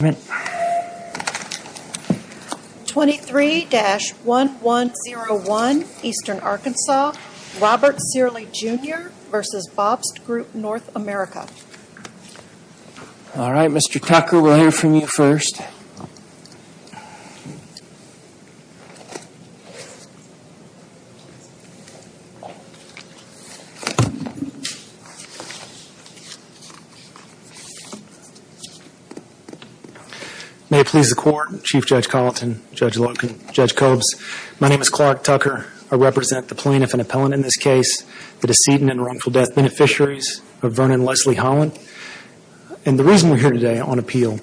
23-1101 Eastern Arkansas Robert Cearley, Jr. v. Bobst Group North America May it please the Court, Chief Judge Colleton, Judge Logan, Judge Cobbs. My name is Clark Tucker. I represent the plaintiff and appellant in this case, the decedent and wrongful death beneficiaries of Vernon Leslie Holland. And the reason we're here today on appeal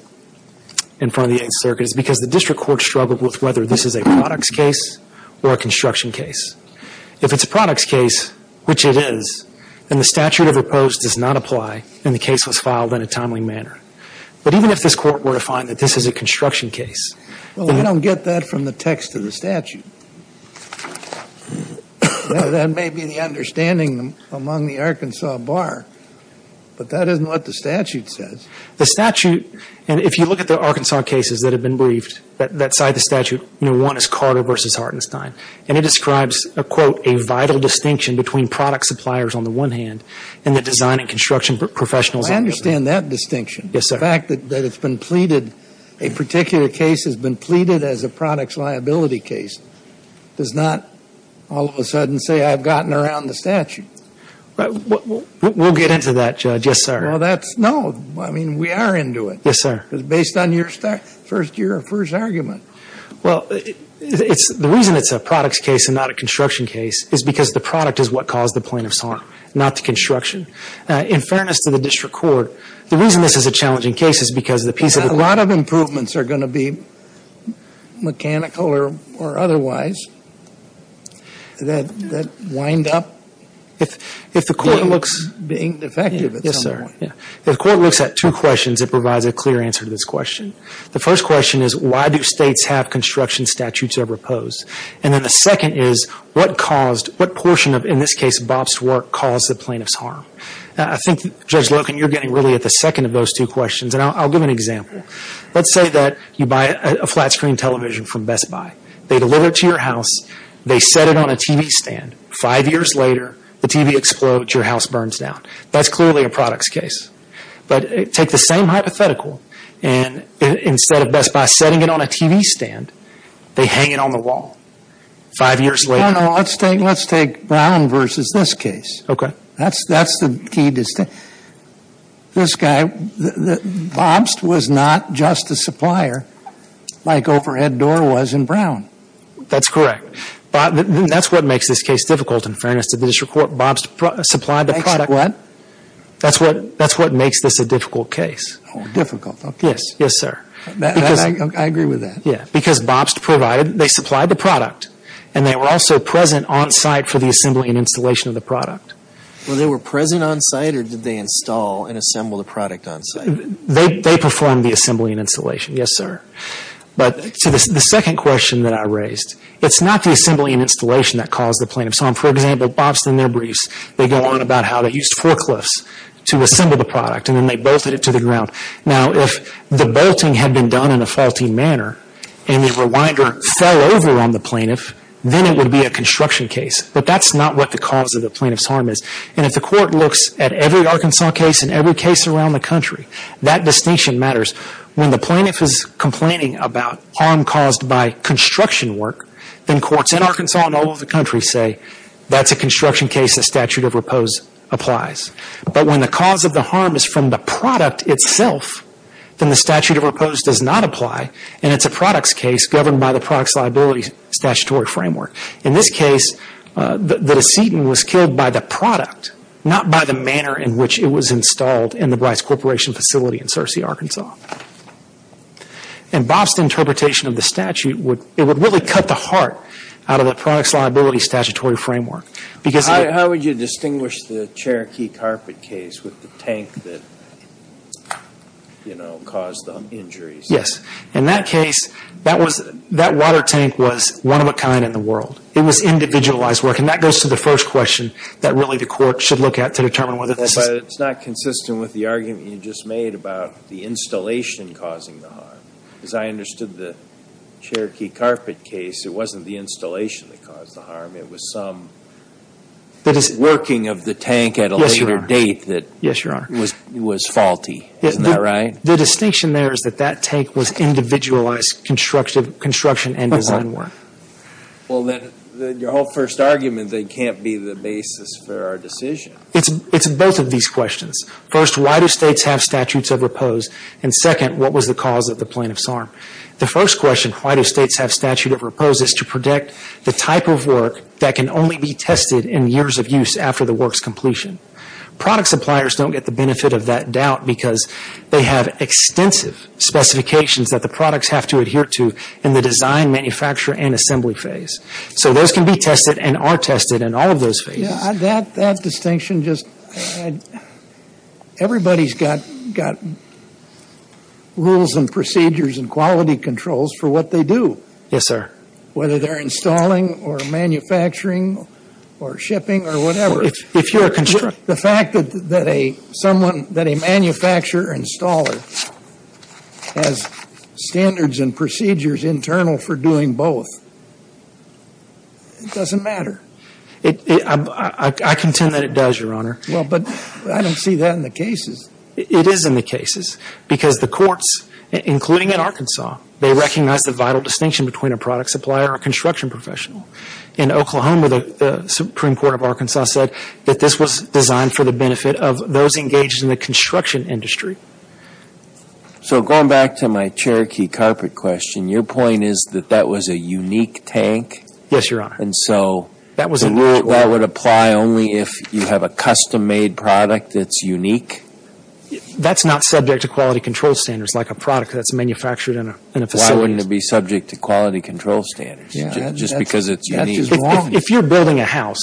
in front of the Eighth Circuit is because the District Court struggled with whether this is a products case or a construction case. If it's a products case, which it is, then the statute of repose does not apply and the case was filed in a timely manner. But even if this Court were to find that this is a construction case... Well, we don't get that from the text of the statute. That may be the understanding among the Arkansas bar, but that isn't what the statute says. The statute, and if you look at the Arkansas cases that have been briefed, that cite the statute, one is Carter v. Hartenstein, and it describes, quote, a vital distinction between product suppliers on the one hand and the design and construction professionals on the other. I understand that distinction. Yes, sir. The fact that it's been pleaded, a particular case has been pleaded as a products liability case does not all of a sudden say I've gotten around the statute. We'll get into that, Judge. Yes, sir. No, I mean, we are into it. Yes, sir. Because based on your first argument. Well, the reason it's a products case and not a construction case is because the product is what caused the plaintiff's harm, not the construction. In fairness to the district court, the reason this is a challenging case is because the piece of the... A lot of improvements are going to be mechanical or otherwise that wind up... If the court looks... Being defective at some point. Yes, sir. If the court looks at two questions, it provides a clear answer to this question. The first question is why do states have construction statutes that are proposed? And then the second is what portion of, in this case, Bob's work caused the plaintiff's harm? I think, Judge Loken, you're getting really at the second of those two questions. And I'll give an example. Let's say that you buy a flat screen television from Best Buy. They deliver it to your house. They set it on a TV stand. Five years later, the TV explodes. Your house burns down. That's clearly a products case. But take the same hypothetical. And instead of Best Buy setting it on a TV stand, they hang it on the wall. Five years later. No, no. Let's take Brown versus this case. Okay. That's the key distinction. This guy, Bob's was not just a supplier like Overhead Door was in Brown. That's correct. That's what makes this case difficult, in fairness to the district court. Bob's supplied the product. What? That's what makes this a difficult case. Difficult. Yes, sir. I agree with that. Because Bob's provided, they supplied the product. And they were also present on site for the assembly and installation of the product. Well, they were present on site, or did they install and assemble the product on site? They performed the assembly and installation, yes, sir. But the second question that I raised, it's not the assembly and installation that caused the plaintiff's harm. For example, Bob's, in their briefs, they go on about how they used forklifts to assemble the product, and then they bolted it to the ground. Now, if the bolting had been done in a faulty manner and the rewinder fell over on the plaintiff, then it would be a construction case. But that's not what the cause of the plaintiff's harm is. And if the court looks at every Arkansas case and every case around the country, that distinction matters. When the plaintiff is complaining about harm caused by construction work, then courts in Arkansas and all over the country say that's a construction case that statute of repose applies. But when the cause of the harm is from the product itself, then the statute of repose does not apply, and it's a products case governed by the products liability statutory framework. In this case, the decedent was killed by the product, not by the manner in which it was installed in the Bryce Corporation facility in Searcy, Arkansas. And Bob's interpretation of the statute, it would really cut the heart out of the products liability statutory framework. How would you distinguish the Cherokee carpet case with the tank that, you know, caused the injuries? Yes. In that case, that water tank was one of a kind in the world. It was individualized work. And that goes to the first question that really the court should look at to determine whether this is... As I understood the Cherokee carpet case, it wasn't the installation that caused the harm. It was some working of the tank at a later date. Yes, Your Honor. That was faulty. Isn't that right? The distinction there is that that tank was individualized construction and design work. Well, then your whole first argument that it can't be the basis for our decision. It's both of these questions. First, why do states have statutes of repose? And second, what was the cause of the plaintiff's harm? The first question, why do states have statute of repose, is to protect the type of work that can only be tested in years of use after the work's completion. Product suppliers don't get the benefit of that doubt because they have extensive specifications that the products have to adhere to in the design, manufacture, and assembly phase. So those can be tested and are tested in all of those phases. That distinction just... everybody's got rules and procedures and quality controls for what they do. Yes, sir. Whether they're installing or manufacturing or shipping or whatever. If you're a... The fact that a manufacturer or installer has standards and procedures internal for doing both, it doesn't matter. I contend that it does, Your Honor. Well, but I don't see that in the cases. It is in the cases because the courts, including in Arkansas, they recognize the vital distinction between a product supplier and a construction professional. In Oklahoma, the Supreme Court of Arkansas said that this was designed for the benefit of those engaged in the construction industry. So going back to my Cherokee carpet question, your point is that that was a unique tank? Yes, Your Honor. And so that would apply only if you have a custom-made product that's unique? That's not subject to quality control standards like a product that's manufactured in a facility. Why wouldn't it be subject to quality control standards just because it's unique? If you're building a house...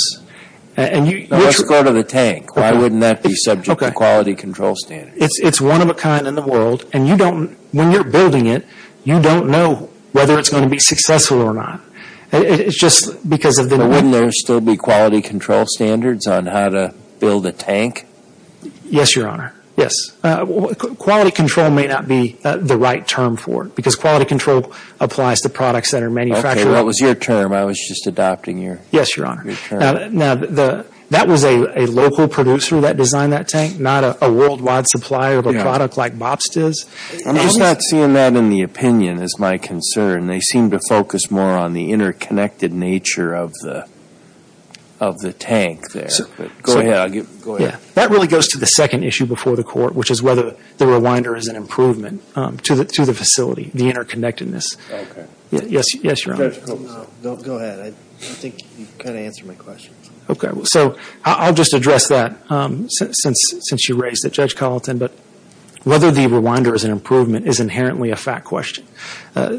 Let's go to the tank. Why wouldn't that be subject to quality control standards? It's one-of-a-kind in the world, and when you're building it, you don't know whether it's going to be successful or not. It's just because of the... Wouldn't there still be quality control standards on how to build a tank? Yes, Your Honor. Yes. Quality control may not be the right term for it because quality control applies to products that are manufactured... Okay, what was your term? I was just adopting your term. Yes, Your Honor. Now, that was a local producer that designed that tank, not a worldwide supplier of a product like Bobstiz. I'm just not seeing that in the opinion as my concern. They seem to focus more on the interconnected nature of the tank there. Go ahead. That really goes to the second issue before the Court, which is whether the Rewinder is an improvement to the facility, the interconnectedness. Okay. Yes, Your Honor. Go ahead. I think you kind of answered my question. Okay. So, I'll just address that since you raised it, Judge Carlton, but whether the Rewinder is an improvement is inherently a fact question.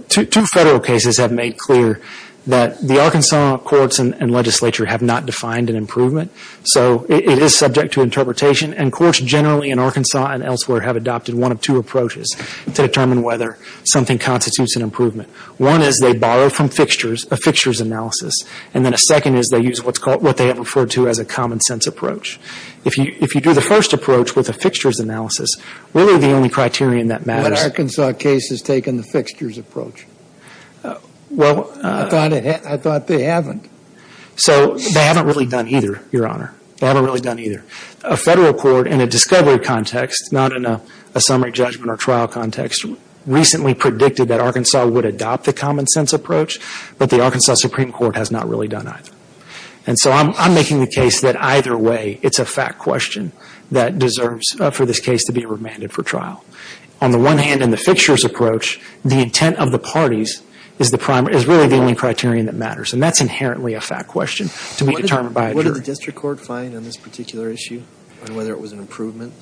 Two federal cases have made clear that the Arkansas courts and legislature have not defined an improvement. So, it is subject to interpretation and courts generally in Arkansas and elsewhere have adopted one of two approaches to determine whether something constitutes an improvement. One is they borrow from fixtures, a fixtures analysis. And then a second is they use what they have referred to as a common sense approach. If you do the first approach with a fixtures analysis, really the only criterion that matters. But Arkansas case has taken the fixtures approach. Well. I thought they haven't. So, they haven't really done either, Your Honor. They haven't really done either. A federal court in a discovery context, not in a summary judgment or trial context, recently predicted that Arkansas would adopt the common sense approach. But the Arkansas Supreme Court has not really done either. And so, I'm making the case that either way it's a fact question that deserves for this case to be remanded for trial. On the one hand, in the fixtures approach, the intent of the parties is really the only criterion that matters. And that's inherently a fact question to be determined by a jury. Did the district court find on this particular issue on whether it was an improvement?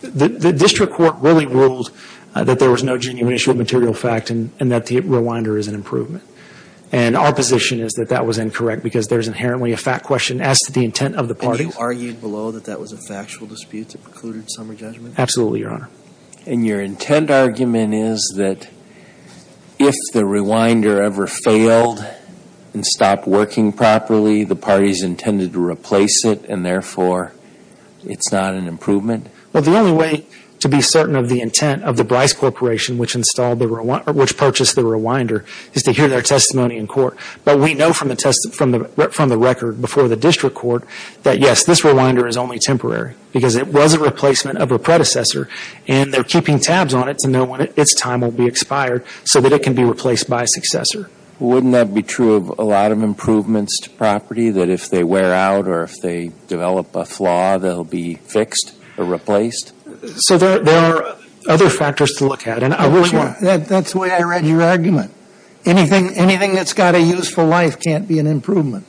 The district court really ruled that there was no genuine issue of material fact and that the rewinder is an improvement. And our position is that that was incorrect because there's inherently a fact question as to the intent of the parties. And you argued below that that was a factual dispute that precluded summary judgment? Absolutely, Your Honor. And your intent argument is that if the rewinder ever failed and stopped working properly, the parties intended to replace it and, therefore, it's not an improvement? Well, the only way to be certain of the intent of the Bryce Corporation, which purchased the rewinder, is to hear their testimony in court. But we know from the record before the district court that, yes, this rewinder is only temporary because it was a replacement of a predecessor, and they're keeping tabs on it to know when its time will be expired so that it can be replaced by a successor. Wouldn't that be true of a lot of improvements to property, that if they wear out or if they develop a flaw, they'll be fixed or replaced? So there are other factors to look at. That's the way I read your argument. Anything that's got a useful life can't be an improvement.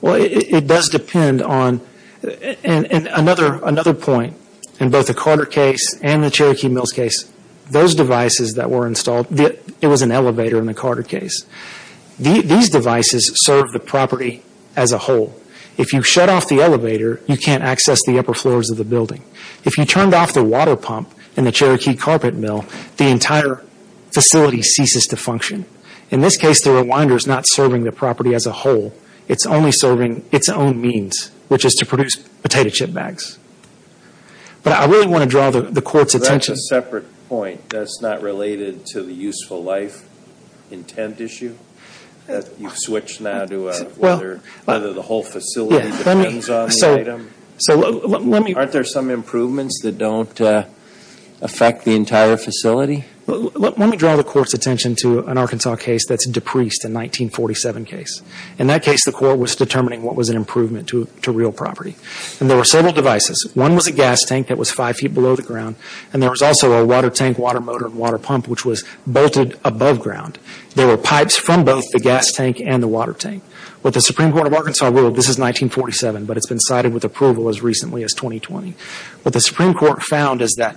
Well, it does depend on another point in both the Carter case and the Cherokee Mills case. Those devices that were installed, it was an elevator in the Carter case. These devices serve the property as a whole. If you shut off the elevator, you can't access the upper floors of the building. If you turned off the water pump in the Cherokee Carpet Mill, the entire facility ceases to function. In this case, the rewinder is not serving the property as a whole. It's only serving its own means, which is to produce potato chip bags. But I really want to draw the court's attention. That's a separate point that's not related to the useful life intent issue. You've switched now to whether the whole facility depends on the item. Aren't there some improvements that don't affect the entire facility? Let me draw the court's attention to an Arkansas case that's depreced, a 1947 case. In that case, the court was determining what was an improvement to real property. And there were several devices. One was a gas tank that was five feet below the ground. And there was also a water tank, water motor, and water pump, which was bolted above ground. There were pipes from both the gas tank and the water tank. What the Supreme Court of Arkansas ruled, this is 1947, but it's been cited with approval as recently as 2020. What the Supreme Court found is that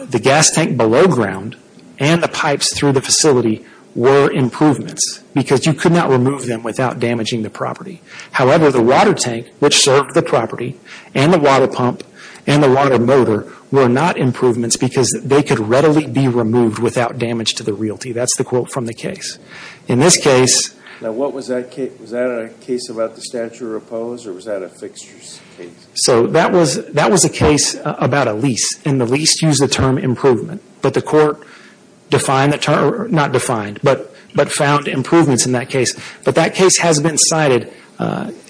the gas tank below ground and the pipes through the facility were improvements because you could not remove them without damaging the property. However, the water tank, which served the property, and the water pump, and the water motor were not improvements because they could readily be removed without damage to the realty. That's the quote from the case. In this case… Now what was that case? Was that a case about the statute of repose, or was that a fixtures case? So that was a case about a lease. And the lease used the term improvement. But the court defined the term, not defined, but found improvements in that case. But that case has been cited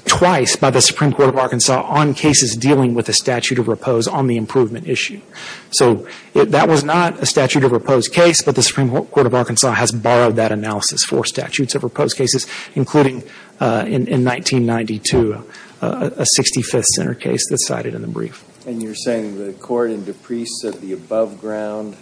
twice by the Supreme Court of Arkansas on cases dealing with the statute of repose on the improvement issue. So that was not a statute of repose case, but the Supreme Court of Arkansas has borrowed that analysis for statutes of repose cases, including in 1992, a 65th Center case that's cited in the brief. And you're saying the court in Dupree said the above ground…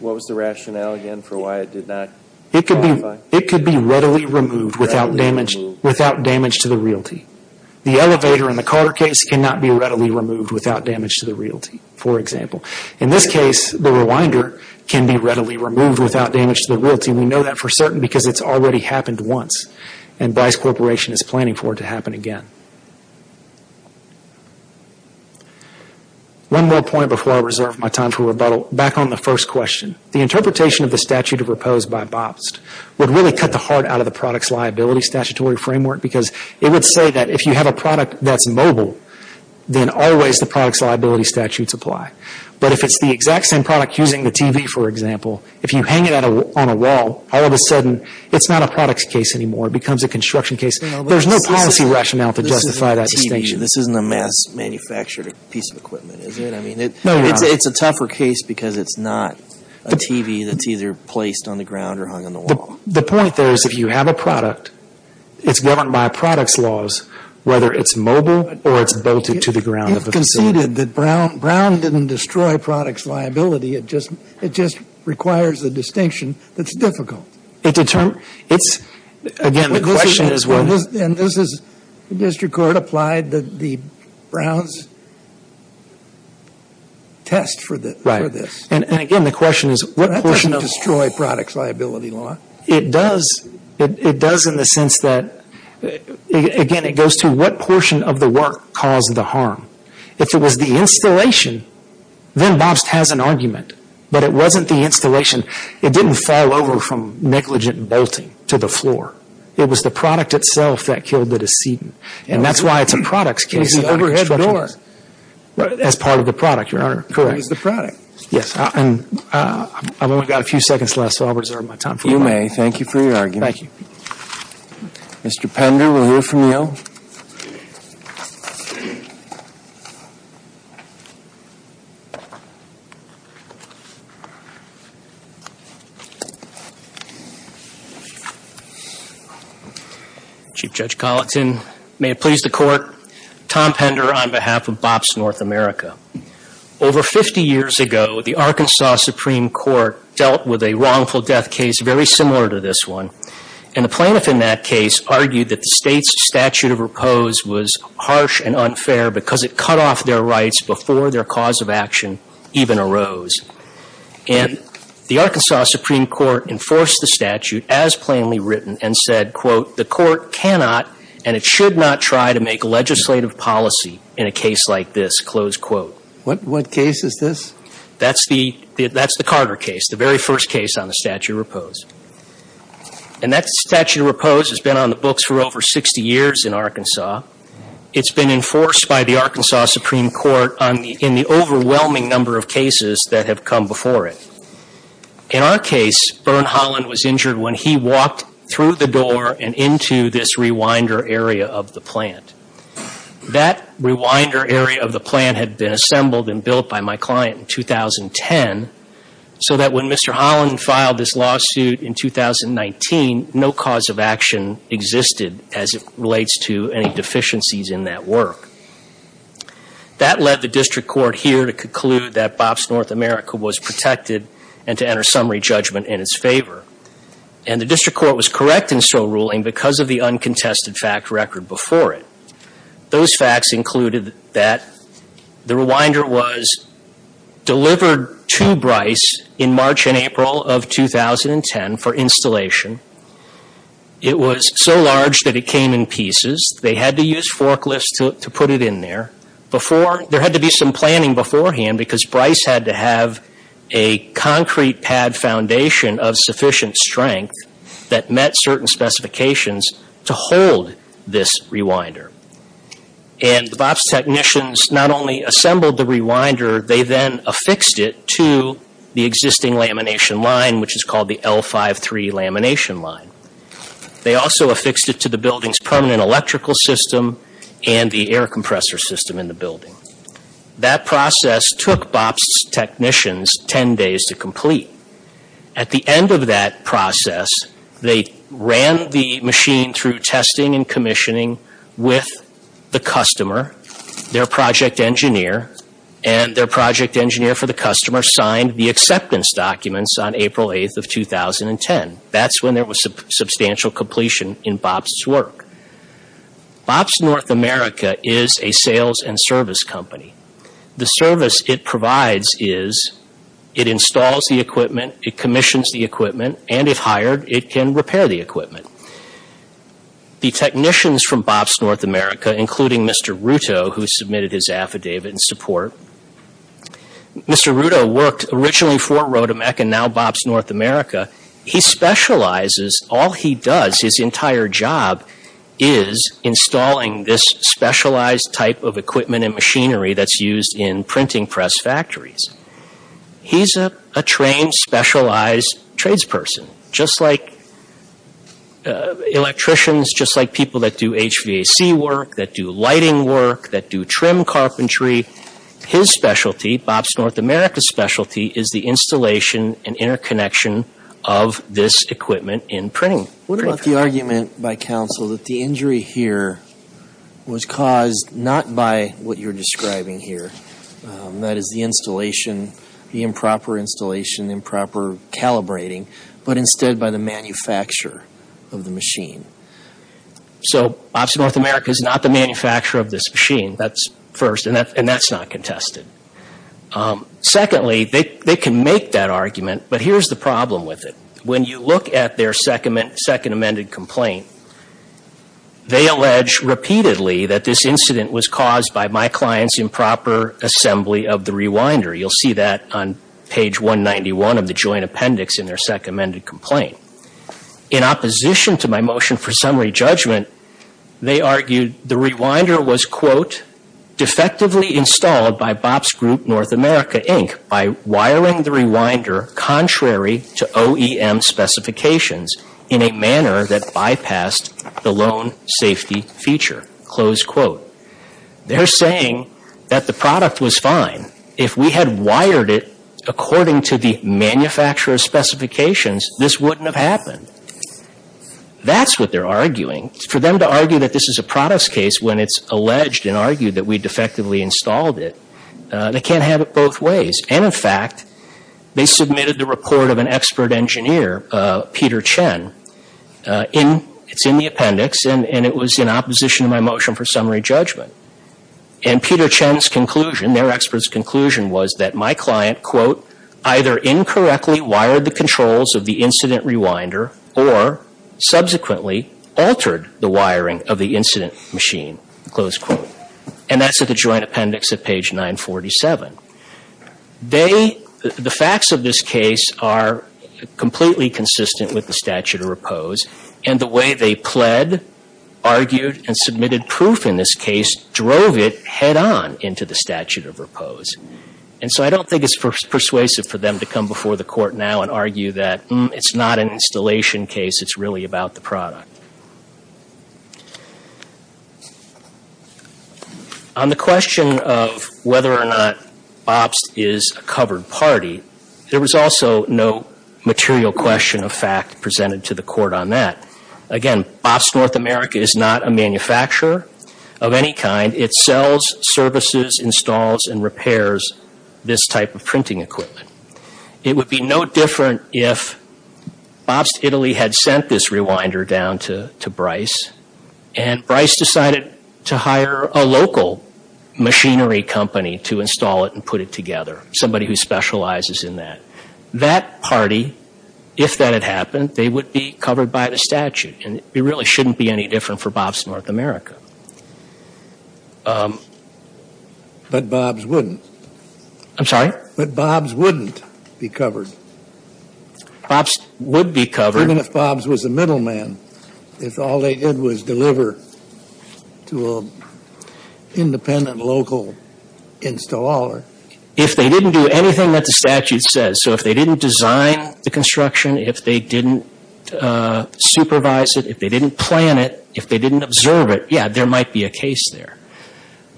What was the rationale again for why it did not qualify? It could be readily removed without damage to the realty. The elevator in the Carter case cannot be readily removed without damage to the realty, for example. In this case, the Rewinder can be readily removed without damage to the realty. And we know that for certain because it's already happened once. And Dice Corporation is planning for it to happen again. One more point before I reserve my time for rebuttal. Back on the first question. The interpretation of the statute of repose by BOPST would really cut the heart out of the product's liability statutory framework because it would say that if you have a product that's mobile, then always the product's liability statutes apply. But if it's the exact same product using the TV, for example, if you hang it on a wall, all of a sudden it's not a product's case anymore. It becomes a construction case. There's no policy rationale to justify that distinction. This isn't a mass-manufactured piece of equipment, is it? No, Your Honor. It's a tougher case because it's not a TV that's either placed on the ground or hung on the wall. The point there is if you have a product, it's governed by a product's laws, whether it's mobile or it's bolted to the ground of a facility. You've conceded that Brown didn't destroy product's liability. It just requires a distinction that's difficult. Again, the question is what? And this is district court applied the Brown's test for this. And, again, the question is what portion of the law? That doesn't destroy product's liability law. It does in the sense that, again, it goes to what portion of the work caused the harm. If it was the installation, then Bobst has an argument. But it wasn't the installation. It didn't fall over from negligent bolting to the floor. It was the product itself that killed the decedent. And that's why it's a product's case. It's an overhead door. As part of the product, Your Honor. Correct. It was the product. Yes. And I've only got a few seconds left, so I'll reserve my time. You may. Thank you for your argument. Thank you. Mr. Pender, we'll hear from you. Chief Judge Colleton, may it please the Court. Tom Pender on behalf of Bobst North America. Over 50 years ago, the Arkansas Supreme Court dealt with a wrongful death case very similar to this one. And the plaintiff in that case argued that the State's statute of repose was harsh and unfair because it cut off their rights before their cause of action even arose. And the Arkansas Supreme Court enforced the statute as plainly written and said, quote, the court cannot and it should not try to make legislative policy in a case like this, close quote. What case is this? That's the Carter case, the very first case on the statute of repose. And that statute of repose has been on the books for over 60 years in Arkansas. It's been enforced by the Arkansas Supreme Court in the overwhelming number of cases that have come before it. In our case, Berne Holland was injured when he walked through the door and into this rewinder area of the plant. That rewinder area of the plant had been assembled and built by my client in 2010 so that when Mr. Holland filed this lawsuit in 2019, no cause of action existed as it relates to any deficiencies in that work. That led the district court here to conclude that BOPS North America was protected and to enter summary judgment in its favor. And the district court was correct in so ruling because of the uncontested fact record before it. Those facts included that the rewinder was delivered to Bryce in March and April of 2010 for installation. It was so large that it came in pieces. They had to use forklifts to put it in there. There had to be some planning beforehand because Bryce had to have a concrete pad foundation of sufficient strength that met certain specifications to hold this rewinder. And the BOPS technicians not only assembled the rewinder, they then affixed it to the existing lamination line which is called the L-53 lamination line. They also affixed it to the building's permanent electrical system and the air compressor system in the building. That process took BOPS technicians 10 days to complete. At the end of that process, they ran the machine through testing and commissioning with the customer, their project engineer, and their project engineer for the customer signed the acceptance documents on April 8th of 2010. That's when there was substantial completion in BOPS' work. BOPS North America is a sales and service company. The service it provides is it installs the equipment, it commissions the equipment, and if hired, it can repair the equipment. The technicians from BOPS North America, including Mr. Ruto who submitted his affidavit in support, Mr. Ruto worked originally for Rotomec and now BOPS North America. He specializes, all he does, his entire job is installing this specialized type of equipment and machinery that's used in printing press factories. He's a trained, specialized tradesperson just like electricians, just like people that do HVAC work, that do lighting work, that do trim carpentry. His specialty, BOPS North America's specialty, is the installation and interconnection of this equipment in printing. What about the argument by counsel that the injury here was caused not by what you're describing here, that is the installation, the improper installation, improper calibrating, but instead by the manufacturer of the machine? So BOPS North America is not the manufacturer of this machine, that's first, and that's not contested. Secondly, they can make that argument, but here's the problem with it. When you look at their second amended complaint, they allege repeatedly that this incident was caused by my client's improper assembly of the rewinder. You'll see that on page 191 of the joint appendix in their second amended complaint. In opposition to my motion for summary judgment, they argued the rewinder was, quote, in a manner that bypassed the loan safety feature, close quote. They're saying that the product was fine. If we had wired it according to the manufacturer's specifications, this wouldn't have happened. That's what they're arguing. For them to argue that this is a product's case when it's alleged and argued that we defectively installed it, they can't have it both ways. And, in fact, they submitted the report of an expert engineer, Peter Chen. It's in the appendix, and it was in opposition to my motion for summary judgment. And Peter Chen's conclusion, their expert's conclusion, was that my client, quote, either incorrectly wired the controls of the incident rewinder or subsequently altered the wiring of the incident machine, close quote. And that's at the joint appendix at page 947. They, the facts of this case are completely consistent with the statute of repose. And the way they pled, argued, and submitted proof in this case drove it head on into the statute of repose. And so I don't think it's persuasive for them to come before the court now and argue that, hmm, it's not an installation case. It's really about the product. On the question of whether or not BOPST is a covered party, there was also no material question of fact presented to the court on that. Again, BOPST North America is not a manufacturer of any kind. It sells, services, installs, and repairs this type of printing equipment. It would be no different if BOPST Italy had sent this rewinder down to Bryce and Bryce decided to hire a local machinery company to install it and put it together, somebody who specializes in that. That party, if that had happened, they would be covered by the statute. And it really shouldn't be any different for BOPST North America. But BOPST wouldn't. I'm sorry? But BOPST wouldn't be covered. BOPST would be covered. Even if BOPST was a middleman, if all they did was deliver to an independent local installer. If they didn't do anything that the statute says, so if they didn't design the construction, if they didn't supervise it, if they didn't plan it, if they didn't observe it, yeah, there might be a case there.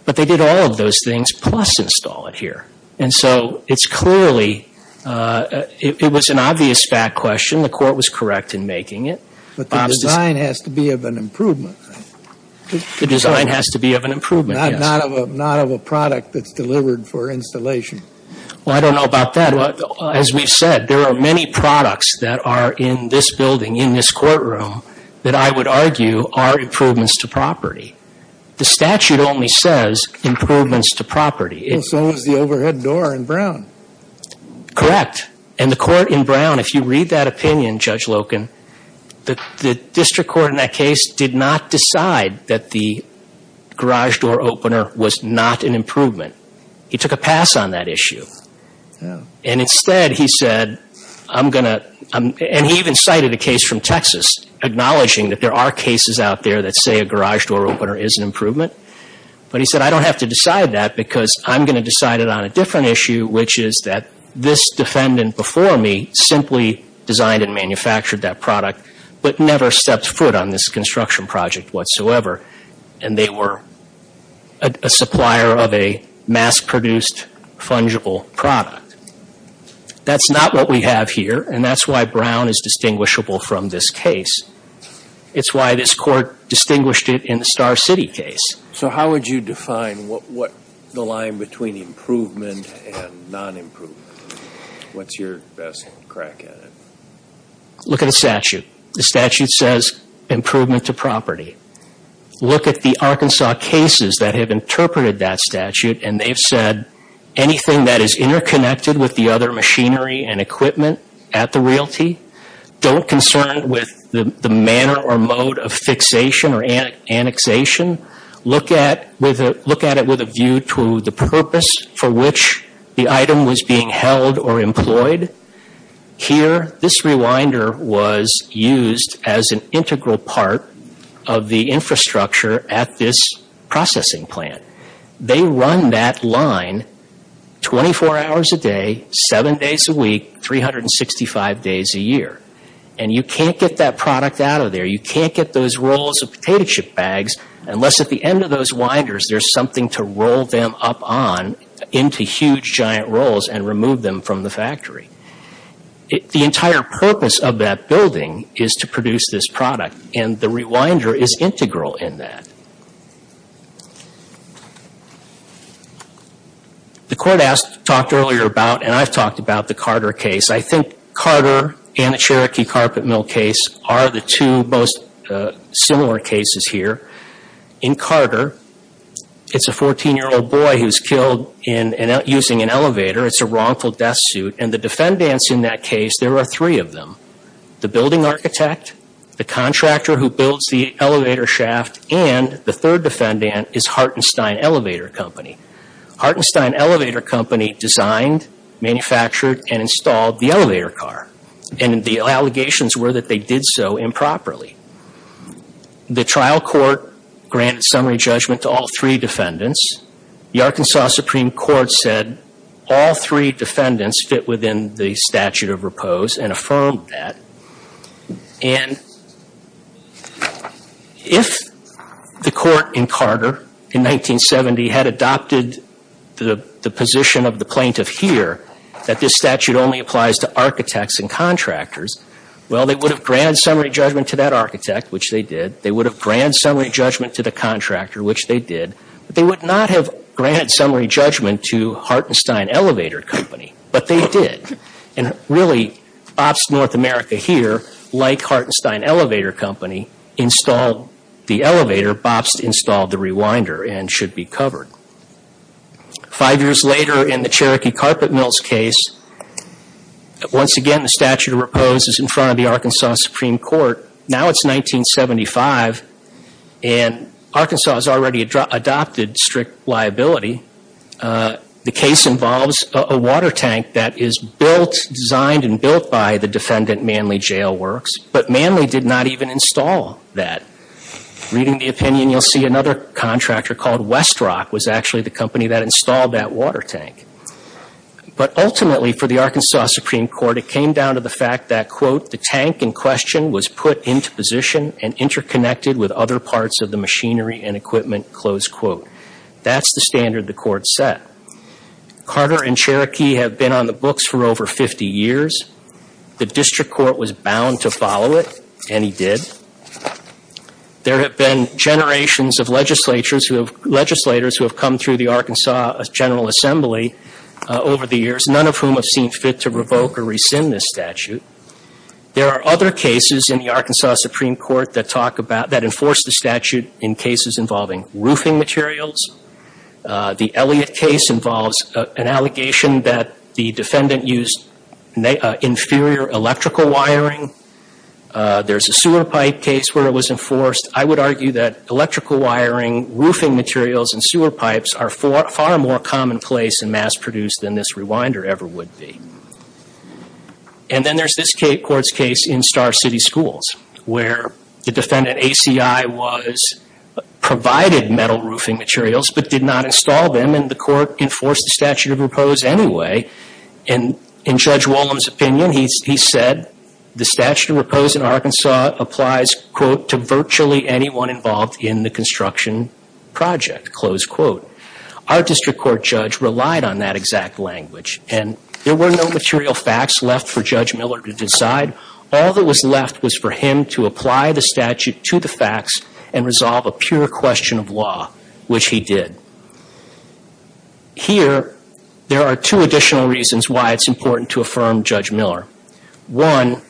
But they did all of those things plus install it here. And so it's clearly, it was an obvious fact question. The court was correct in making it. But the design has to be of an improvement. The design has to be of an improvement, yes. Not of a product that's delivered for installation. Well, I don't know about that. As we've said, there are many products that are in this building, in this courtroom, that I would argue are improvements to property. The statute only says improvements to property. Well, so does the overhead door in Brown. Correct. And the court in Brown, if you read that opinion, Judge Loken, the district court in that case did not decide that the garage door opener was not an improvement. He took a pass on that issue. And instead he said, I'm going to – and he even cited a case from Texas acknowledging that there are cases out there that say a garage door opener is an improvement. But he said, I don't have to decide that because I'm going to decide it on a different issue, which is that this defendant before me simply designed and manufactured that product but never stepped foot on this construction project whatsoever. And they were a supplier of a mass-produced fungible product. That's not what we have here, and that's why Brown is distinguishable from this case. It's why this court distinguished it in the Star City case. So how would you define the line between improvement and non-improvement? What's your best crack at it? Look at the statute. The statute says improvement to property. Look at the Arkansas cases that have interpreted that statute, and they've said anything that is interconnected with the other machinery and equipment at the realty, don't concern with the manner or mode of fixation or annexation. Look at it with a view to the purpose for which the item was being held or employed. Here, this rewinder was used as an integral part of the infrastructure at this processing plant. They run that line 24 hours a day, 7 days a week, 365 days a year. And you can't get that product out of there. You can't get those rolls of potato chip bags unless at the end of those winders there's something to roll them up on into huge, giant rolls and remove them from the factory. The entire purpose of that building is to produce this product, and the rewinder is integral in that. The court talked earlier about, and I've talked about, the Carter case. I think Carter and the Cherokee Carpet Mill case are the two most similar cases here. In Carter, it's a 14-year-old boy who's killed using an elevator. It's a wrongful death suit, and the defendants in that case, there are three of them. The building architect, the contractor who builds the elevator shaft, and the third defendant is Hartenstein Elevator Company. Hartenstein Elevator Company designed, manufactured, and installed the elevator car, and the allegations were that they did so improperly. The trial court granted summary judgment to all three defendants. The Arkansas Supreme Court said all three defendants fit within the statute of repose and affirmed that, and if the court in Carter in 1970 had adopted the position of the plaintiff here that this statute only applies to architects and contractors, well, they would have granted summary judgment to that architect, which they did. They would have granted summary judgment to the contractor, which they did. But they would not have granted summary judgment to Hartenstein Elevator Company, but they did. And really, Bobst North America here, like Hartenstein Elevator Company, installed the elevator. Bobst installed the rewinder and should be covered. Five years later, in the Cherokee Carpet Mills case, once again, the statute of repose is in front of the Arkansas Supreme Court. Now it's 1975, and Arkansas has already adopted strict liability. The case involves a water tank that is built, designed and built by the defendant Manley Jail Works, but Manley did not even install that. Reading the opinion, you'll see another contractor called Westrock was actually the company that installed that water tank. But ultimately, for the Arkansas Supreme Court, it came down to the fact that, quote, the tank in question was put into position and interconnected with other parts of the machinery and equipment, close quote. That's the standard the court set. Carter and Cherokee have been on the books for over 50 years. The district court was bound to follow it, and he did. There have been generations of legislators who have come through the Arkansas General Assembly over the years, none of whom have seen fit to revoke or rescind this statute. There are other cases in the Arkansas Supreme Court that enforce the statute in cases involving roofing materials. The Elliott case involves an allegation that the defendant used inferior electrical wiring. There's a sewer pipe case where it was enforced. I would argue that electrical wiring, roofing materials, and sewer pipes are far more commonplace and mass-produced than this rewinder ever would be. And then there's this court's case in Star City Schools, where the defendant ACI provided metal roofing materials but did not install them, and the court enforced the statute of repose anyway. In Judge Wollum's opinion, he said the statute of repose in Arkansas applies, quote, to virtually anyone involved in the construction project, close quote. Our district court judge relied on that exact language, and there were no material facts left for Judge Miller to decide. All that was left was for him to apply the statute to the facts and resolve a pure question of law, which he did. Here, there are two additional reasons why it's important to affirm Judge Miller. One,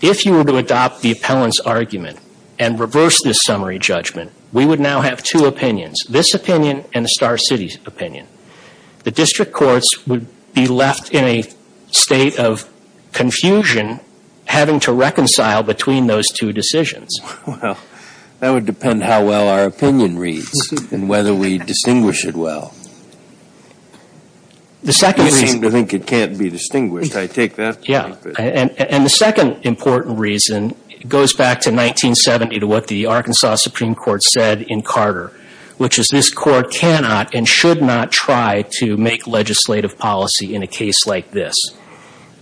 if you were to adopt the appellant's argument and reverse this summary judgment, we would now have two opinions, this opinion and the Star City opinion. The district courts would be left in a state of confusion having to reconcile between those two decisions. Well, that would depend how well our opinion reads and whether we distinguish it well. You seem to think it can't be distinguished. I take that. Yeah. And the second important reason goes back to 1970 to what the Arkansas Supreme Court said in Carter, which is this court cannot and should not try to make legislative policy in a case like this.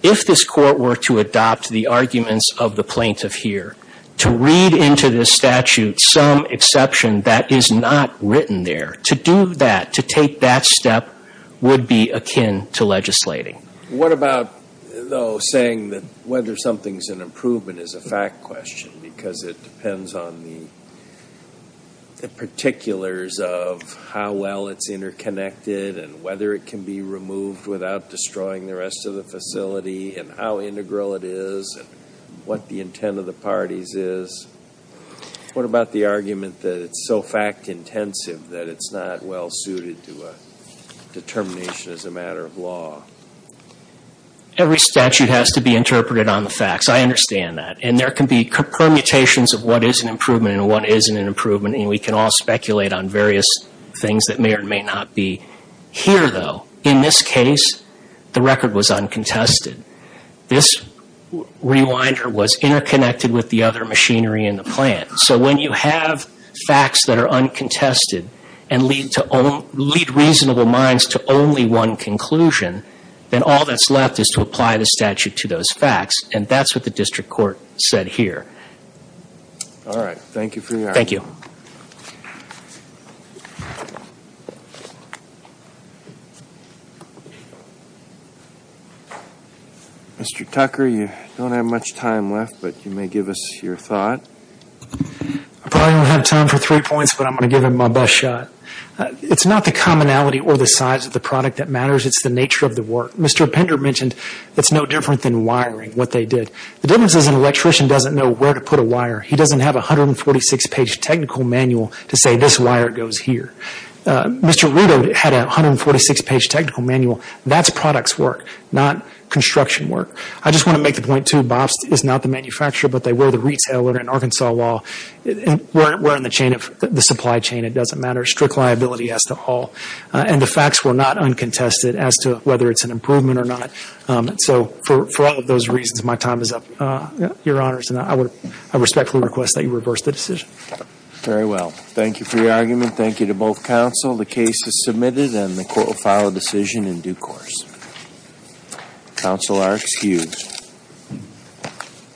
If this court were to adopt the arguments of the plaintiff here, to read into this statute some exception that is not written there, to do that, to take that step would be akin to legislating. What about, though, saying that whether something's an improvement is a fact question because it depends on the particulars of how well it's interconnected and whether it can be removed without destroying the rest of the facility and how integral it is and what the intent of the parties is. What about the argument that it's so fact intensive that it's not well suited to a determination as a matter of law? Every statute has to be interpreted on the facts. I understand that. And there can be permutations of what is an improvement and what isn't an improvement, and we can all speculate on various things that may or may not be here, though. In this case, the record was uncontested. This rewinder was interconnected with the other machinery in the plant. So when you have facts that are uncontested and lead reasonable minds to only one conclusion, then all that's left is to apply the statute to those facts, and that's what the district court said here. All right. Thank you for your argument. Mr. Tucker, you don't have much time left, but you may give us your thought. I probably don't have time for three points, but I'm going to give it my best shot. It's not the commonality or the size of the product that matters. It's the nature of the work. Mr. Pender mentioned it's no different than wiring, what they did. The difference is an electrician doesn't know where to put a wire. He doesn't have a 146-page technical manual to say this wire goes here. Mr. Rito had a 146-page technical manual. That's product's work, not construction work. I just want to make the point, too, BOPS is not the manufacturer, but they were the retailer in Arkansas law. We're in the supply chain. It doesn't matter. Strict liability as to all. And the facts were not uncontested as to whether it's an improvement or not. For all of those reasons, my time is up, Your Honors. I respectfully request that you reverse the decision. Very well. Thank you for your argument. Thank you to both counsel. The case is submitted and the court will file a decision in due course. Counsel are excused.